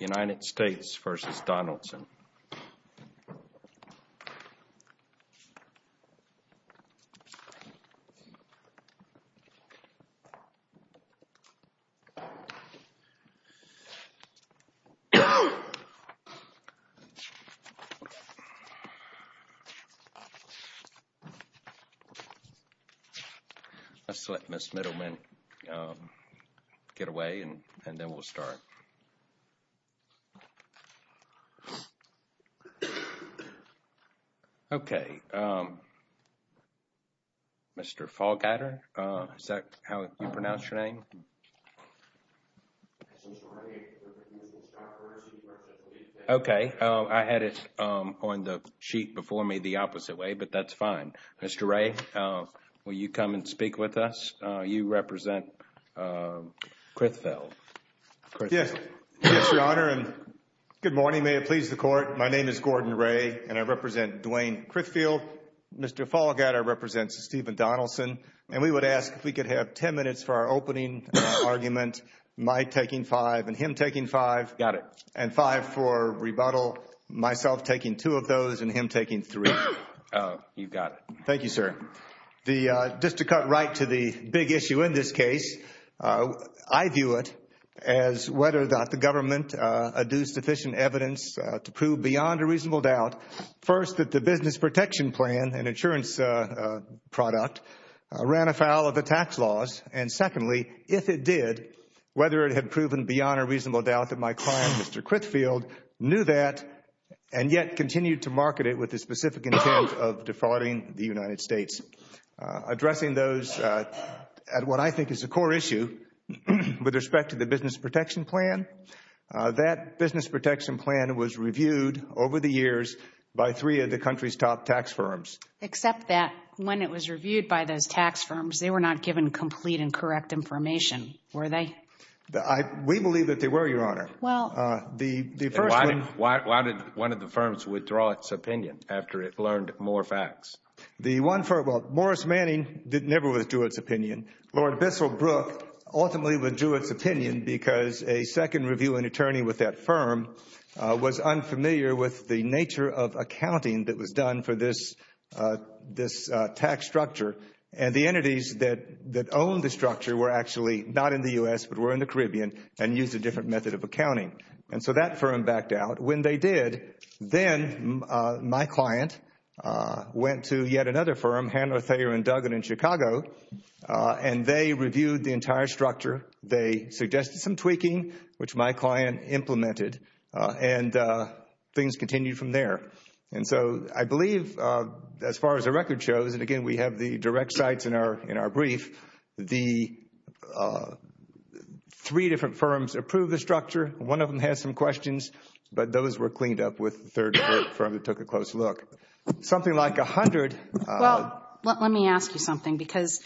United States v. Donaldson. Let's let Ms. Middleman get away and then we'll start. Okay, Mr. Fallgatter, is that how you pronounce your name? Okay, I had it on the sheet before me the opposite way, but that's fine. Mr. Ray, will you come and speak with us? You represent Crithfield. Yes, Your Honor, and good morning. May it please the Court. My name is Gordon Ray and I represent Dwayne Crithfield. Mr. Fallgatter represents Stephen Donaldson. And we would ask if we could have ten minutes for our opening argument, my taking five and him taking five. Got it. And five for rebuttal, myself taking two of those and him taking three. You've got it. Thank you, sir. Just to cut right to the big issue in this case, I view it as whether or not the government adduced sufficient evidence to prove beyond a reasonable doubt, first, that the business protection plan, an insurance product, ran afoul of the tax laws, and secondly, if it did, whether it had proven beyond a reasonable doubt that my client, Mr. Crithfield, knew that and yet continued to market it with the specific intent of defrauding the United States. Addressing those at what I think is a core issue with respect to the business protection plan, that business protection plan was reviewed over the years by three of the country's top tax firms. Except that when it was reviewed by those tax firms, they were not given complete and correct information, were they? We believe that they were, Your Honor. Why did one of the firms withdraw its opinion after it learned more facts? The one firm, well, Morris Manning never withdrew its opinion. Lord Bissell Brook ultimately withdrew its opinion because a second reviewing attorney with that firm was unfamiliar with the nature of accounting that was done for this tax structure. And the entities that owned the structure were actually not in the U.S., but were in the Caribbean and used a different method of accounting. And so that firm backed out. When they did, then my client went to yet another firm, Handler Thayer & Duggan in Chicago, and they reviewed the entire structure. They suggested some tweaking, which my client implemented, and things continued from there. And so I believe as far as the record shows, and again we have the direct sites in our brief, the three different firms approved the structure. One of them had some questions, but those were cleaned up with the third firm that took a close look. Something like 100. Well, let me ask you something because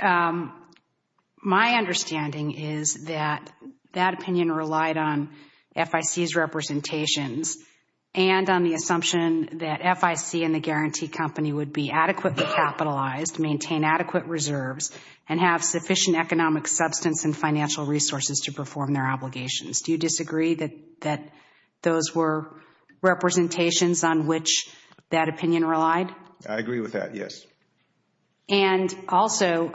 my understanding is that that opinion relied on FIC's representations and on the assumption that FIC and the guarantee company would be adequately capitalized, maintain adequate reserves, and have sufficient economic substance and financial resources to perform their obligations. Do you disagree that those were representations on which that opinion relied? I agree with that, yes. And also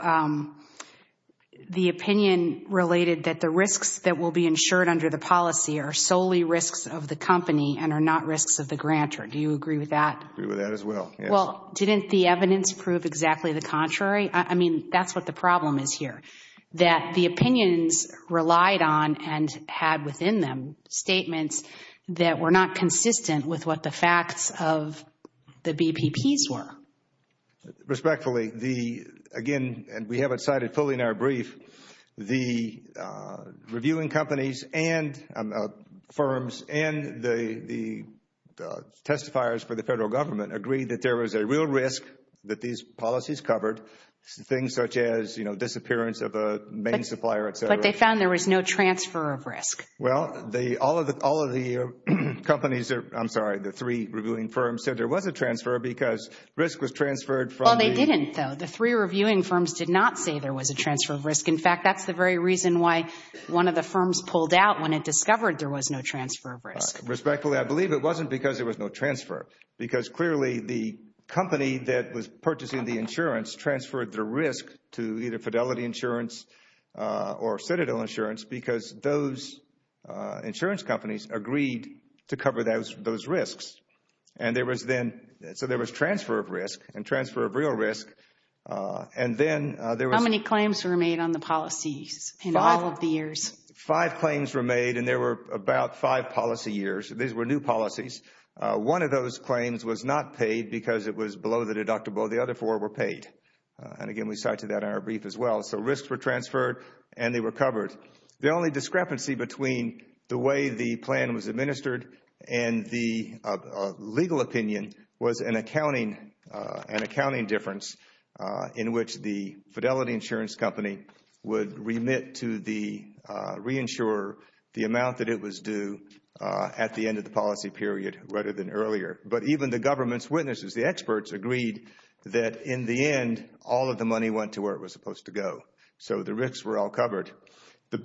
the opinion related that the risks that will be insured under the policy are solely risks of the company and are not risks of the grantor. Do you agree with that? I agree with that as well, yes. Well, didn't the evidence prove exactly the contrary? I mean, that's what the problem is here, that the opinions relied on and had within them statements that were not consistent with what the facts of the BPPs were. Respectfully, again, and we have it cited fully in our brief, the reviewing companies and firms and the testifiers for the federal government agreed that there was a real risk that these policies covered, things such as, you know, disappearance of a main supplier, et cetera. But they found there was no transfer of risk. Well, all of the companies are – I'm sorry, the three reviewing firms said there was a transfer because risk was transferred from the – Well, they didn't, though. The three reviewing firms did not say there was a transfer of risk. In fact, that's the very reason why one of the firms pulled out when it discovered there was no transfer of risk. Respectfully, I believe it wasn't because there was no transfer, because clearly the company that was purchasing the insurance transferred the risk to either Fidelity Insurance or Citadel Insurance because those insurance companies agreed to cover those risks. And there was then – so there was transfer of risk and transfer of real risk. And then there was – How many claims were made on the policies in all of the years? Five. Five claims were made, and there were about five policy years. These were new policies. One of those claims was not paid because it was below the deductible. The other four were paid. And again, we cite to that in our brief as well. So risks were transferred and they were covered. In short, the only discrepancy between the way the plan was administered and the legal opinion was an accounting difference in which the Fidelity Insurance company would remit to the reinsurer the amount that it was due at the end of the policy period rather than earlier. But even the government's witnesses, the experts, agreed that in the end all of the money went to where it was supposed to go. So the risks were all covered. The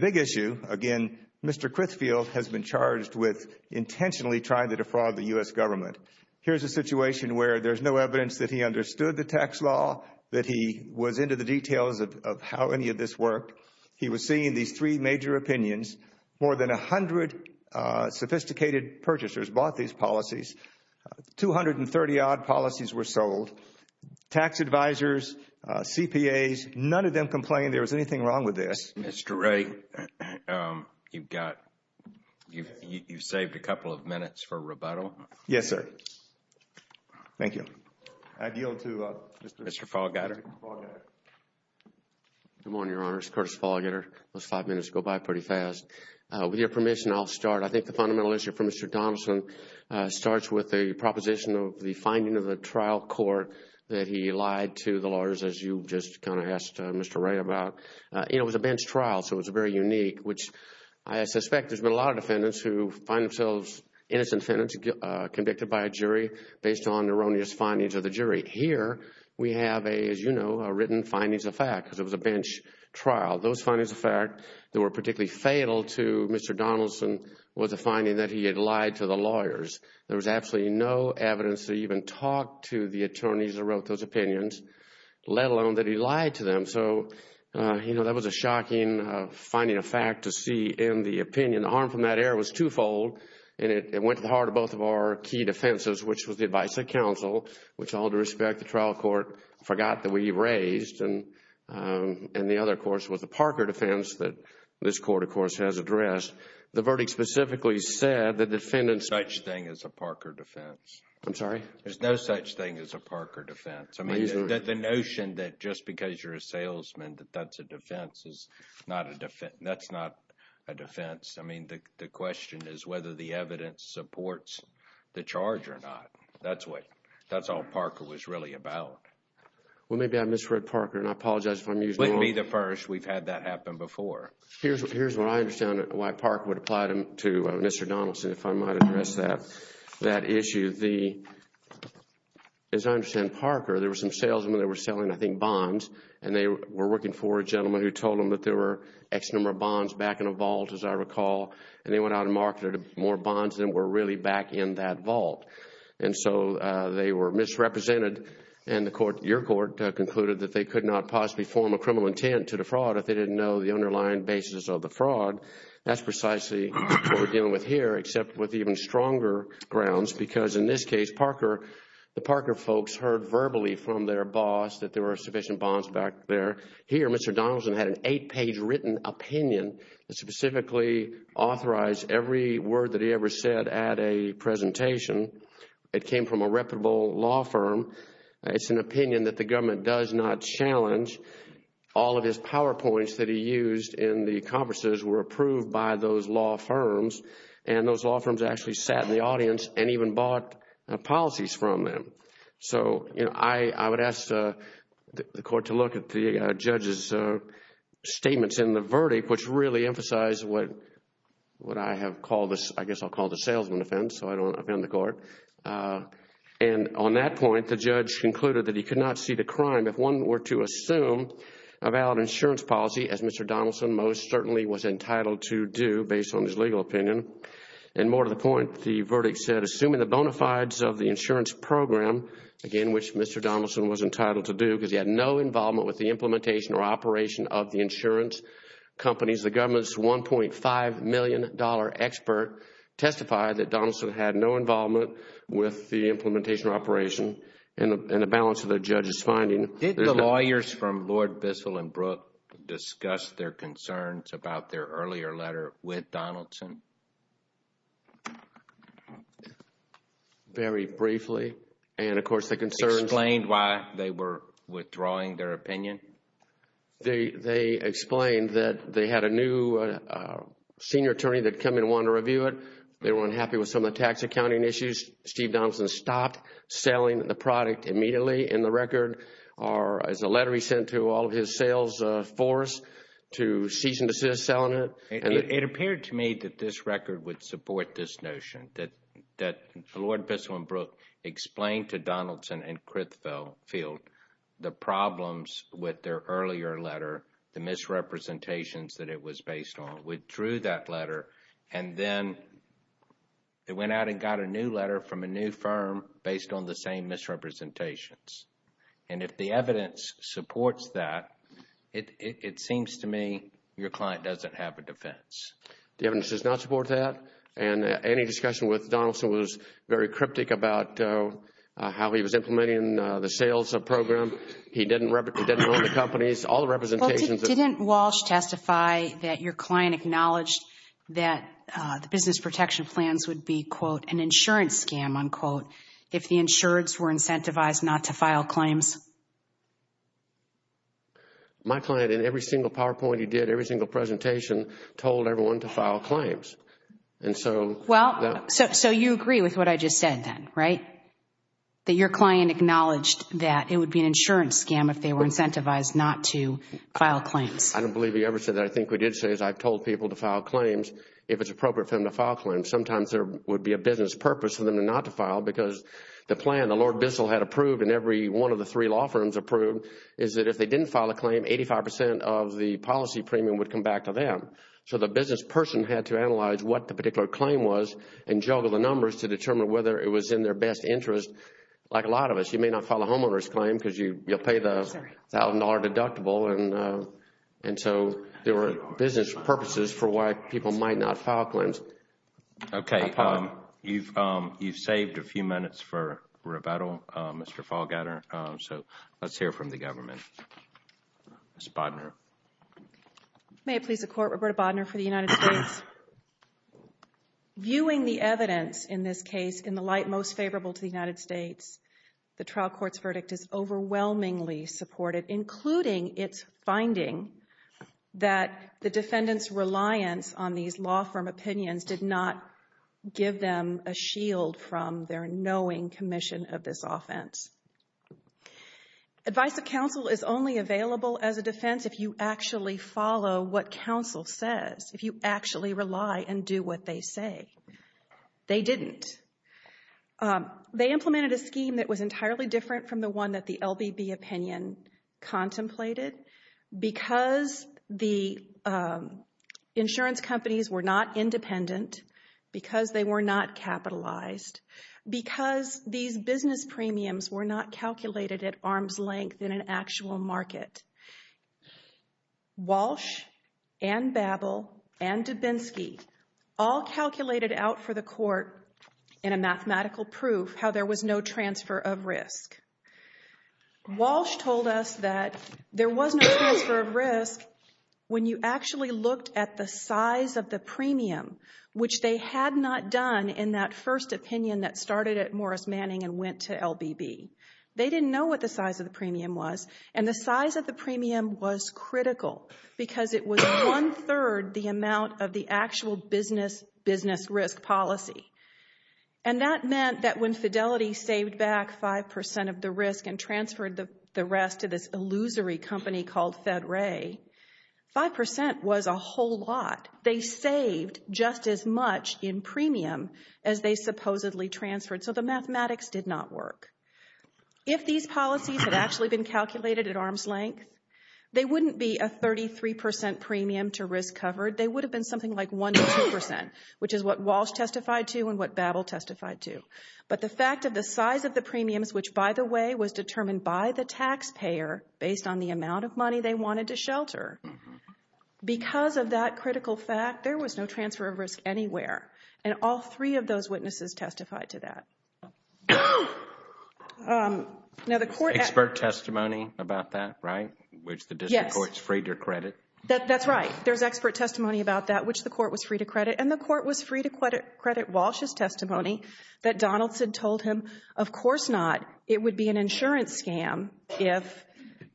big issue, again, Mr. Crithfield has been charged with intentionally trying to defraud the U.S. government. Here's a situation where there's no evidence that he understood the tax law, that he was into the details of how any of this worked. He was seeing these three major opinions. More than 100 sophisticated purchasers bought these policies. 230-odd policies were sold. Tax advisors, CPAs, none of them complained there was anything wrong with this. Mr. Ray, you've saved a couple of minutes for rebuttal. Yes, sir. Thank you. I yield to Mr. Fallgatter. Good morning, Your Honors. Curtis Fallgatter. Those five minutes go by pretty fast. With your permission, I'll start. I think the fundamental issue for Mr. Donaldson starts with the proposition of the finding of the trial court that he lied to the lawyers, as you just kind of asked Mr. Ray about. It was a bench trial, so it was very unique, which I suspect there's been a lot of defendants who find themselves innocent defendants convicted by a jury based on erroneous findings of the jury. Here we have, as you know, written findings of fact because it was a bench trial. Those findings of fact that were particularly fatal to Mr. Donaldson was the finding that he had lied to the lawyers. There was absolutely no evidence to even talk to the attorneys who wrote those opinions, let alone that he lied to them. So, you know, that was a shocking finding of fact to see in the opinion. The harm from that error was twofold, and it went to the heart of both of our key defenses, which was the advice of counsel, which all due respect, the trial court forgot that we raised, and the other, of course, was the Parker defense that this court, of course, has addressed. The verdict specifically said that defendants... There's no such thing as a Parker defense. I'm sorry? There's no such thing as a Parker defense. I mean, the notion that just because you're a salesman that that's a defense is not a defense, that's not a defense. I mean, the question is whether the evidence supports the charge or not. That's what, that's all Parker was really about. Well, maybe I misread Parker, and I apologize if I'm using the wrong... Don't be the first. We've had that happen before. Here's what I understand why Parker would apply to Mr. Donaldson, if I might address that issue. As I understand Parker, there were some salesmen that were selling, I think, bonds, and they were working for a gentleman who told them that there were X number of bonds back in a vault, as I recall, and they went out and marketed more bonds than were really back in that vault. And so they were misrepresented, and your court concluded that they could not possibly form a criminal intent to defraud if they didn't know the underlying basis of the fraud. That's precisely what we're dealing with here, except with even stronger grounds, because in this case, Parker, the Parker folks heard verbally from their boss that there were sufficient bonds back there. Here, Mr. Donaldson had an eight-page written opinion that specifically authorized every word that he ever said at a presentation. It came from a reputable law firm. It's an opinion that the government does not challenge. All of his PowerPoints that he used in the conferences were approved by those law firms, and those law firms actually sat in the audience and even bought policies from them. So, you know, I would ask the court to look at the judge's statements in the verdict, which really emphasized what I have called this, I guess I'll call it a salesman offense, so I don't offend the court. And on that point, the judge concluded that he could not see the crime if one were to assume a valid insurance policy, as Mr. Donaldson most certainly was entitled to do based on his legal opinion. And more to the point, the verdict said, assuming the bona fides of the insurance program, again, which Mr. Donaldson was entitled to do because he had no involvement with the implementation or operation of the insurance companies, the government's $1.5 million expert testified that Donaldson had no Did the lawyers from Lord Bissell and Brooke discuss their concerns about their earlier letter with Donaldson? Very briefly. And, of course, the concerns Explained why they were withdrawing their opinion? They explained that they had a new senior attorney that had come in and wanted to review it. They were unhappy with some of the tax accounting issues. Steve Donaldson stopped selling the product immediately in the record, or as a letter he sent to all of his sales force to cease and desist selling it. It appeared to me that this record would support this notion, that Lord Bissell and Brooke explained to Donaldson and Crithfield the problems with their earlier letter, the misrepresentations that it was based on, withdrew that new letter from a new firm based on the same misrepresentations. And if the evidence supports that, it seems to me your client doesn't have a defense. The evidence does not support that. And any discussion with Donaldson was very cryptic about how he was implementing the sales program. He didn't own the companies. All the representations Didn't Walsh testify that your client acknowledged that the business protection plans would be, quote, an insurance scam, unquote, if the insureds were incentivized not to file claims? My client, in every single PowerPoint he did, every single presentation, told everyone to file claims. And so Well, so you agree with what I just said then, right? That your client acknowledged that it would be an insurance scam if they were incentivized not to file claims. I don't believe he ever said that. I think what he did say is I've told people to file claims if it's necessary to file claims. Sometimes there would be a business purpose for them not to file because the plan the Lord Bissel had approved and every one of the three law firms approved is that if they didn't file a claim, 85 percent of the policy premium would come back to them. So the business person had to analyze what the particular claim was and juggle the numbers to determine whether it was in their best interest. Like a lot of us, you may not file a homeowner's claim because you'll pay the $1,000 deductible. And so there were business purposes for why people might not file claims. Okay. You've saved a few minutes for rebuttal, Mr. Fallgatter. So let's hear from the government. Ms. Bodner. May it please the Court, Roberta Bodner for the United States. Viewing the evidence in this case in the light most favorable to the United States, the trial court's verdict is overwhelmingly supportive, including its finding that the defendant's reliance on these law firm opinions did not give them a shield from their knowing commission of this offense. Advice of counsel is only available as a defense if you actually follow what counsel says, if you actually rely and do what they say. They didn't. They implemented a scheme that was entirely different from the one that the court calculated because the insurance companies were not independent, because they were not capitalized, because these business premiums were not calculated at arm's length in an actual market. Walsh and Babel and Dubinsky all calculated out for the court in a Walsh told us that there was no transfer of risk when you actually looked at the size of the premium, which they had not done in that first opinion that started at Morris Manning and went to LBB. They didn't know what the size of the premium was, and the size of the premium was critical because it was one-third the amount of the actual business risk policy. And that meant that when Fidelity saved back 5% of the risk and transferred the rest to this illusory company called FedRay, 5% was a whole lot. They saved just as much in premium as they supposedly transferred, so the mathematics did not work. If these policies had actually been calculated at arm's length, they wouldn't be a 33% premium to risk covered. They would have been something like 1% to 2%, which is what Walsh testified to and what Babel testified to. But the fact of the size of the premiums, which, by the way, was determined by the taxpayer based on the amount of money they wanted to shelter, because of that critical fact, there was no transfer of risk anywhere, and all three of those witnesses testified to that. Expert testimony about that, right? Yes. Which the district courts freed their credit. That's right. There's expert testimony about that, which the court was free to credit, and the court was free to credit Walsh's testimony that Donaldson told him, of course not, it would be an insurance scam if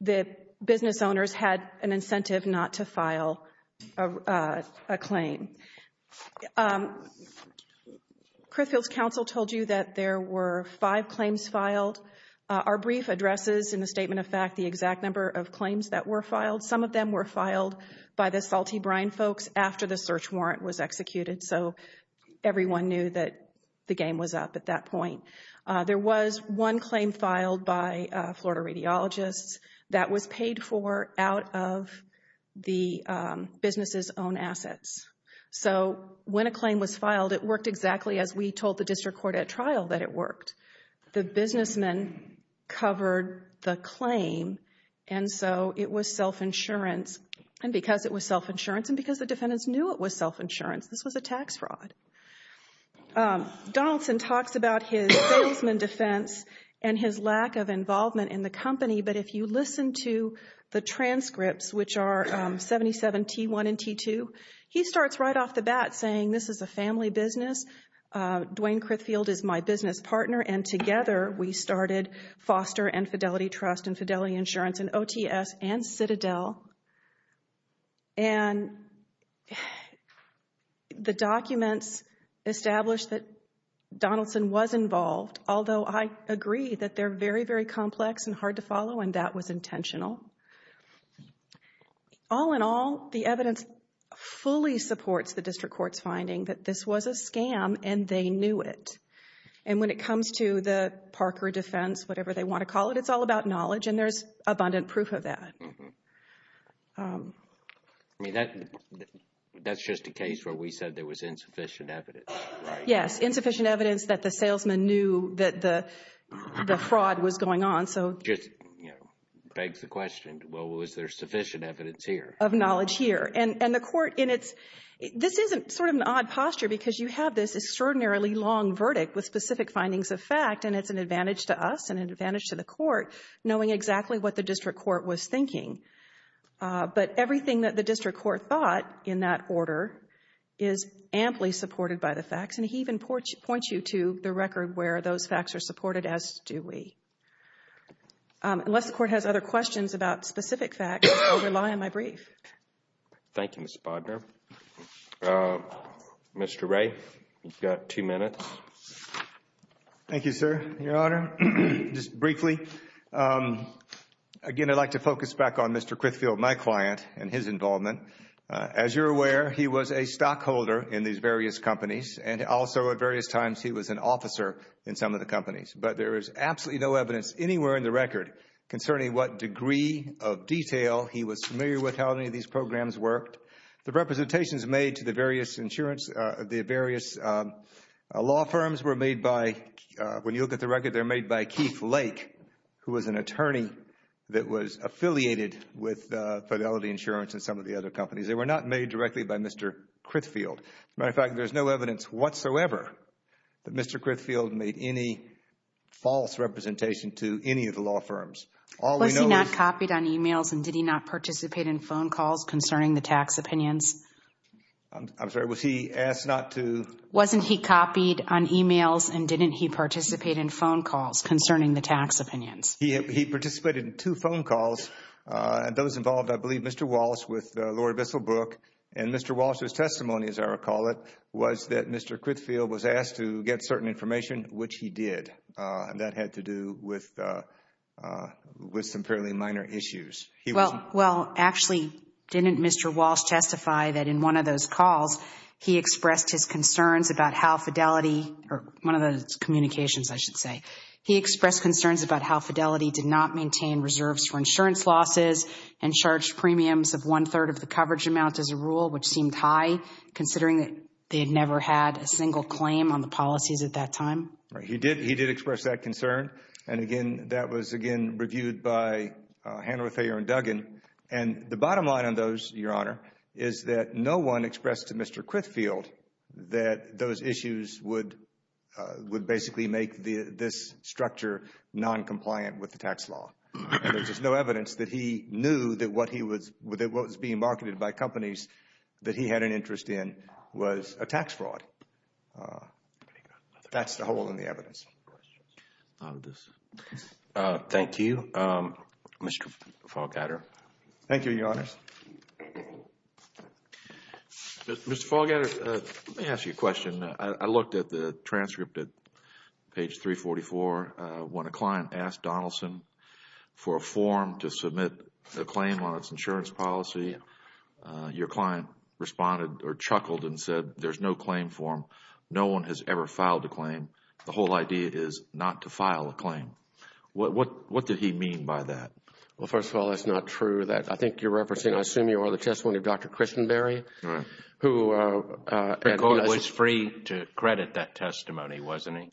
the business owners had an incentive not to file a claim. Criffield's counsel told you that there were five claims filed. Our brief addresses in the statement of fact the exact number of claims that were filed by the Salty Brine folks after the search warrant was executed, so everyone knew that the game was up at that point. There was one claim filed by Florida radiologists that was paid for out of the businesses' own assets. So when a claim was filed, it worked exactly as we told the district court at trial that it worked. The businessmen covered the claim, and so it was self-insurance. And because it was self-insurance, and because the defendants knew it was self-insurance, this was a tax fraud. Donaldson talks about his salesman defense and his lack of involvement in the company, but if you listen to the transcripts, which are 77T1 and T2, he starts right off the bat saying this is a family business. Dwayne Criffield is my business partner, and together we started Foster and Fidelity Trust and Fidelity Insurance and OTS and Citadel. And the documents establish that Donaldson was involved, although I agree that they're very, very complex and hard to follow, and that was intentional. All in all, the evidence fully supports the district court's finding that this was a scam and they knew it. And when it comes to the Parker defense, whatever they want to call it, it's all about knowledge, and there's abundant proof of that. I mean, that's just a case where we said there was insufficient evidence. Yes, insufficient evidence that the salesman knew that the fraud was going on. So just begs the question, well, was there sufficient evidence here? Of knowledge here. And the court in its — this is sort of an odd posture because you have this extraordinarily long verdict with specific findings of fact, and it's an advantage to us and an advantage to the court knowing exactly what the district court was thinking. But everything that the district court thought in that order is amply supported by the facts, and he even points you to the record where those facts are supported, as do we. Unless the court has other questions about specific facts, I will rely on my brief. Thank you, Ms. Bodnar. Mr. Wray, you've got two minutes. Thank you, sir. Your Honor, just briefly, again, I'd like to focus back on Mr. Crithfield, my client, and his involvement. As you're aware, he was a stockholder in these various companies and also at various times he was an officer in some of the companies. But there is absolutely no evidence anywhere in the record concerning what degree of detail he was familiar with how any of these programs worked. The representations made to the various insurance — the various law firms were made by — when you look at the record, they're made by Keith Lake, who was an attorney that was affiliated with Fidelity Insurance and some of the other companies. They were not made directly by Mr. Crithfield. As a matter of fact, there's no evidence whatsoever that Mr. Crithfield made any false representation to any of the law firms. All we know is — Was he not copied on emails and did he not participate in phone calls concerning the tax opinions? I'm sorry, was he asked not to — Wasn't he copied on emails and didn't he participate in phone calls concerning the tax opinions? He participated in two phone calls, and those involved, I believe, Mr. Walsh with or call it, was that Mr. Crithfield was asked to get certain information, which he did. That had to do with some fairly minor issues. Well, actually, didn't Mr. Walsh testify that in one of those calls, he expressed his concerns about how Fidelity — or one of the communications, I should say — he expressed concerns about how Fidelity did not maintain reserves for insurance losses and charged premiums of one-third of the coverage amount as a rule, which seemed high, considering that they had never had a single claim on the policies at that time? Right. He did express that concern. And, again, that was, again, reviewed by Handler, Thayer, and Duggan. And the bottom line on those, Your Honor, is that no one expressed to Mr. Crithfield that those issues would basically make this structure noncompliant with the tax law. And there's just no evidence that he knew that what was being marketed by companies that he had an interest in was a tax fraud. That's the hole in the evidence. Thank you. Mr. Fogatter. Thank you, Your Honor. Mr. Fogatter, let me ask you a question. I looked at the transcript at page 344. When a client asked Donaldson for a form to submit a claim on its insurance policy, your client responded or chuckled and said, there's no claim form. No one has ever filed a claim. The whole idea is not to file a claim. What did he mean by that? Well, first of all, that's not true. I think you're referencing, I assume you are, the testimony of Dr. Christenberry. McCoy was free to credit that testimony, wasn't he?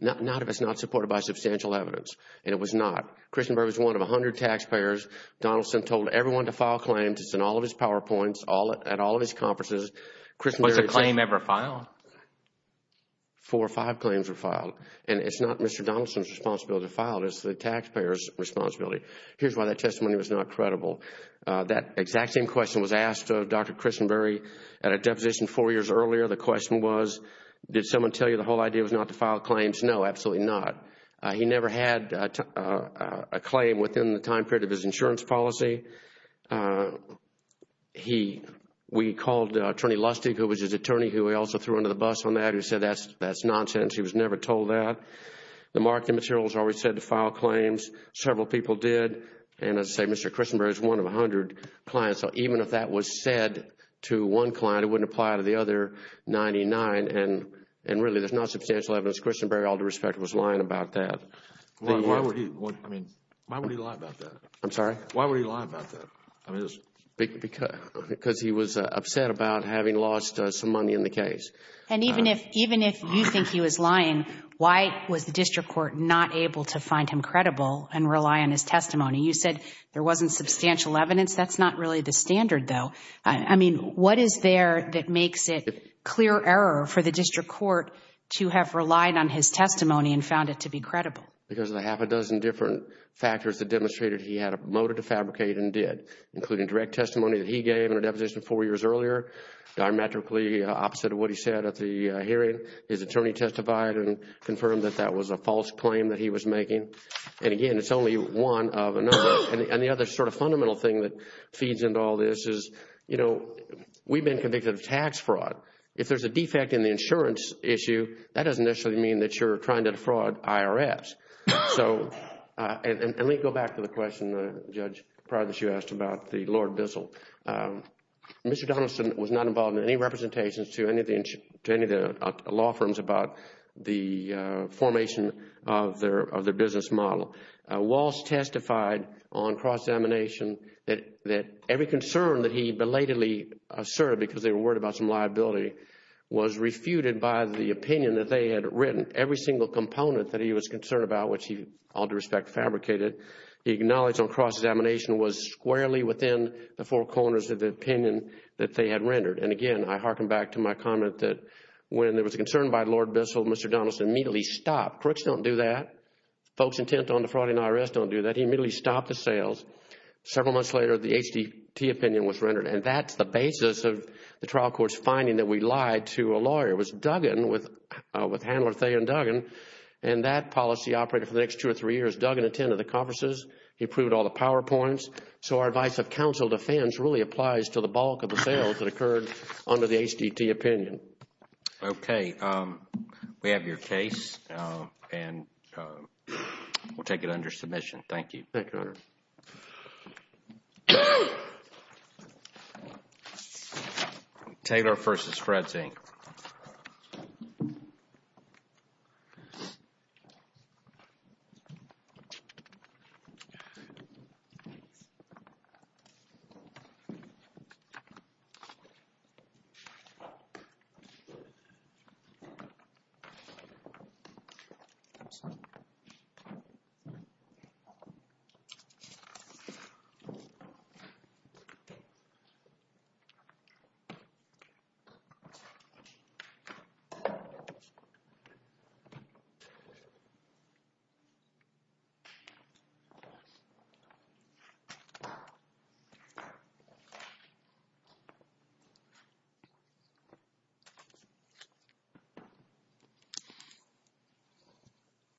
Not if it's not supported by substantial evidence, and it was not. Christenberry was one of a hundred taxpayers. Donaldson told everyone to file claims. It's in all of his PowerPoints, at all of his conferences. Was a claim ever filed? Four or five claims were filed. And it's not Mr. Donaldson's responsibility to file it. It's the taxpayer's responsibility. Here's why that testimony was not credible. That exact same question was asked of Dr. Christenberry at a deposition four years earlier. The question was, did someone tell you the whole idea was not to file claims? No, absolutely not. He never had a claim within the time period of his insurance policy. We called Attorney Lustig, who was his attorney, who we also threw under the bus on that. He said, that's nonsense. He was never told that. The marketing materials always said to file claims. Several people did. And as I say, Mr. Christenberry is one of a hundred clients. So even if that was said to one client, it wouldn't apply to the other 99. And really, there's not substantial evidence. Christenberry, all due respect, was lying about that. Why would he lie about that? I'm sorry? Why would he lie about that? Because he was upset about having lost some money in the case. And even if you think he was lying, why was the district court not able to find him credible and rely on his testimony? You said there wasn't substantial evidence. That's not really the standard, though. I mean, what is there that makes it clear error for the district court to have relied on his testimony and found it to be credible? Because of the half a dozen different factors that demonstrated he had a motive to fabricate and did, including direct testimony that he gave in a deposition four years earlier, diametrically opposite of what he said at the hearing. His attorney testified and confirmed that that was a false claim that he was making. And again, it's only one of a number. And the other sort of fundamental thing that feeds into all this is, you know, we've been convicted of tax fraud. If there's a defect in the insurance issue, that doesn't necessarily mean that you're trying to defraud IRS. And let me go back to the question, Judge, prior to this you asked about the Lord Bissell. Mr. Donaldson was not involved in any representations to any of the law firms about the formation of their business model. Walsh testified on cross-examination that every concern that he belatedly asserted because they were worried about some liability was refuted by the opinion that they had written. Every single component that he was concerned about, which he, all due respect, fabricated, he acknowledged on cross-examination was squarely within the four corners of the opinion that they had rendered. And again, I hearken back to my comment that when there was a concern by Lord Bissell, Mr. Donaldson immediately stopped. Crooks don't do that. Folks intent on defrauding IRS don't do that. He immediately stopped the sales. Several months later, the HTT opinion was rendered. And that's the basis of the trial court's finding that we lied to a lawyer. It was Duggan with Handler, Thay and Duggan, and that policy operated for the next two or three years. Duggan attended the conferences. He approved all the PowerPoints. So our advice of counsel defense really applies to the bulk of the sales that occurred under the HTT opinion. Okay. We have your case, and we'll take it under submission. Thank you. Thank you, Your Honor. Thank you. Taylor v. Fred Zink. Thank you.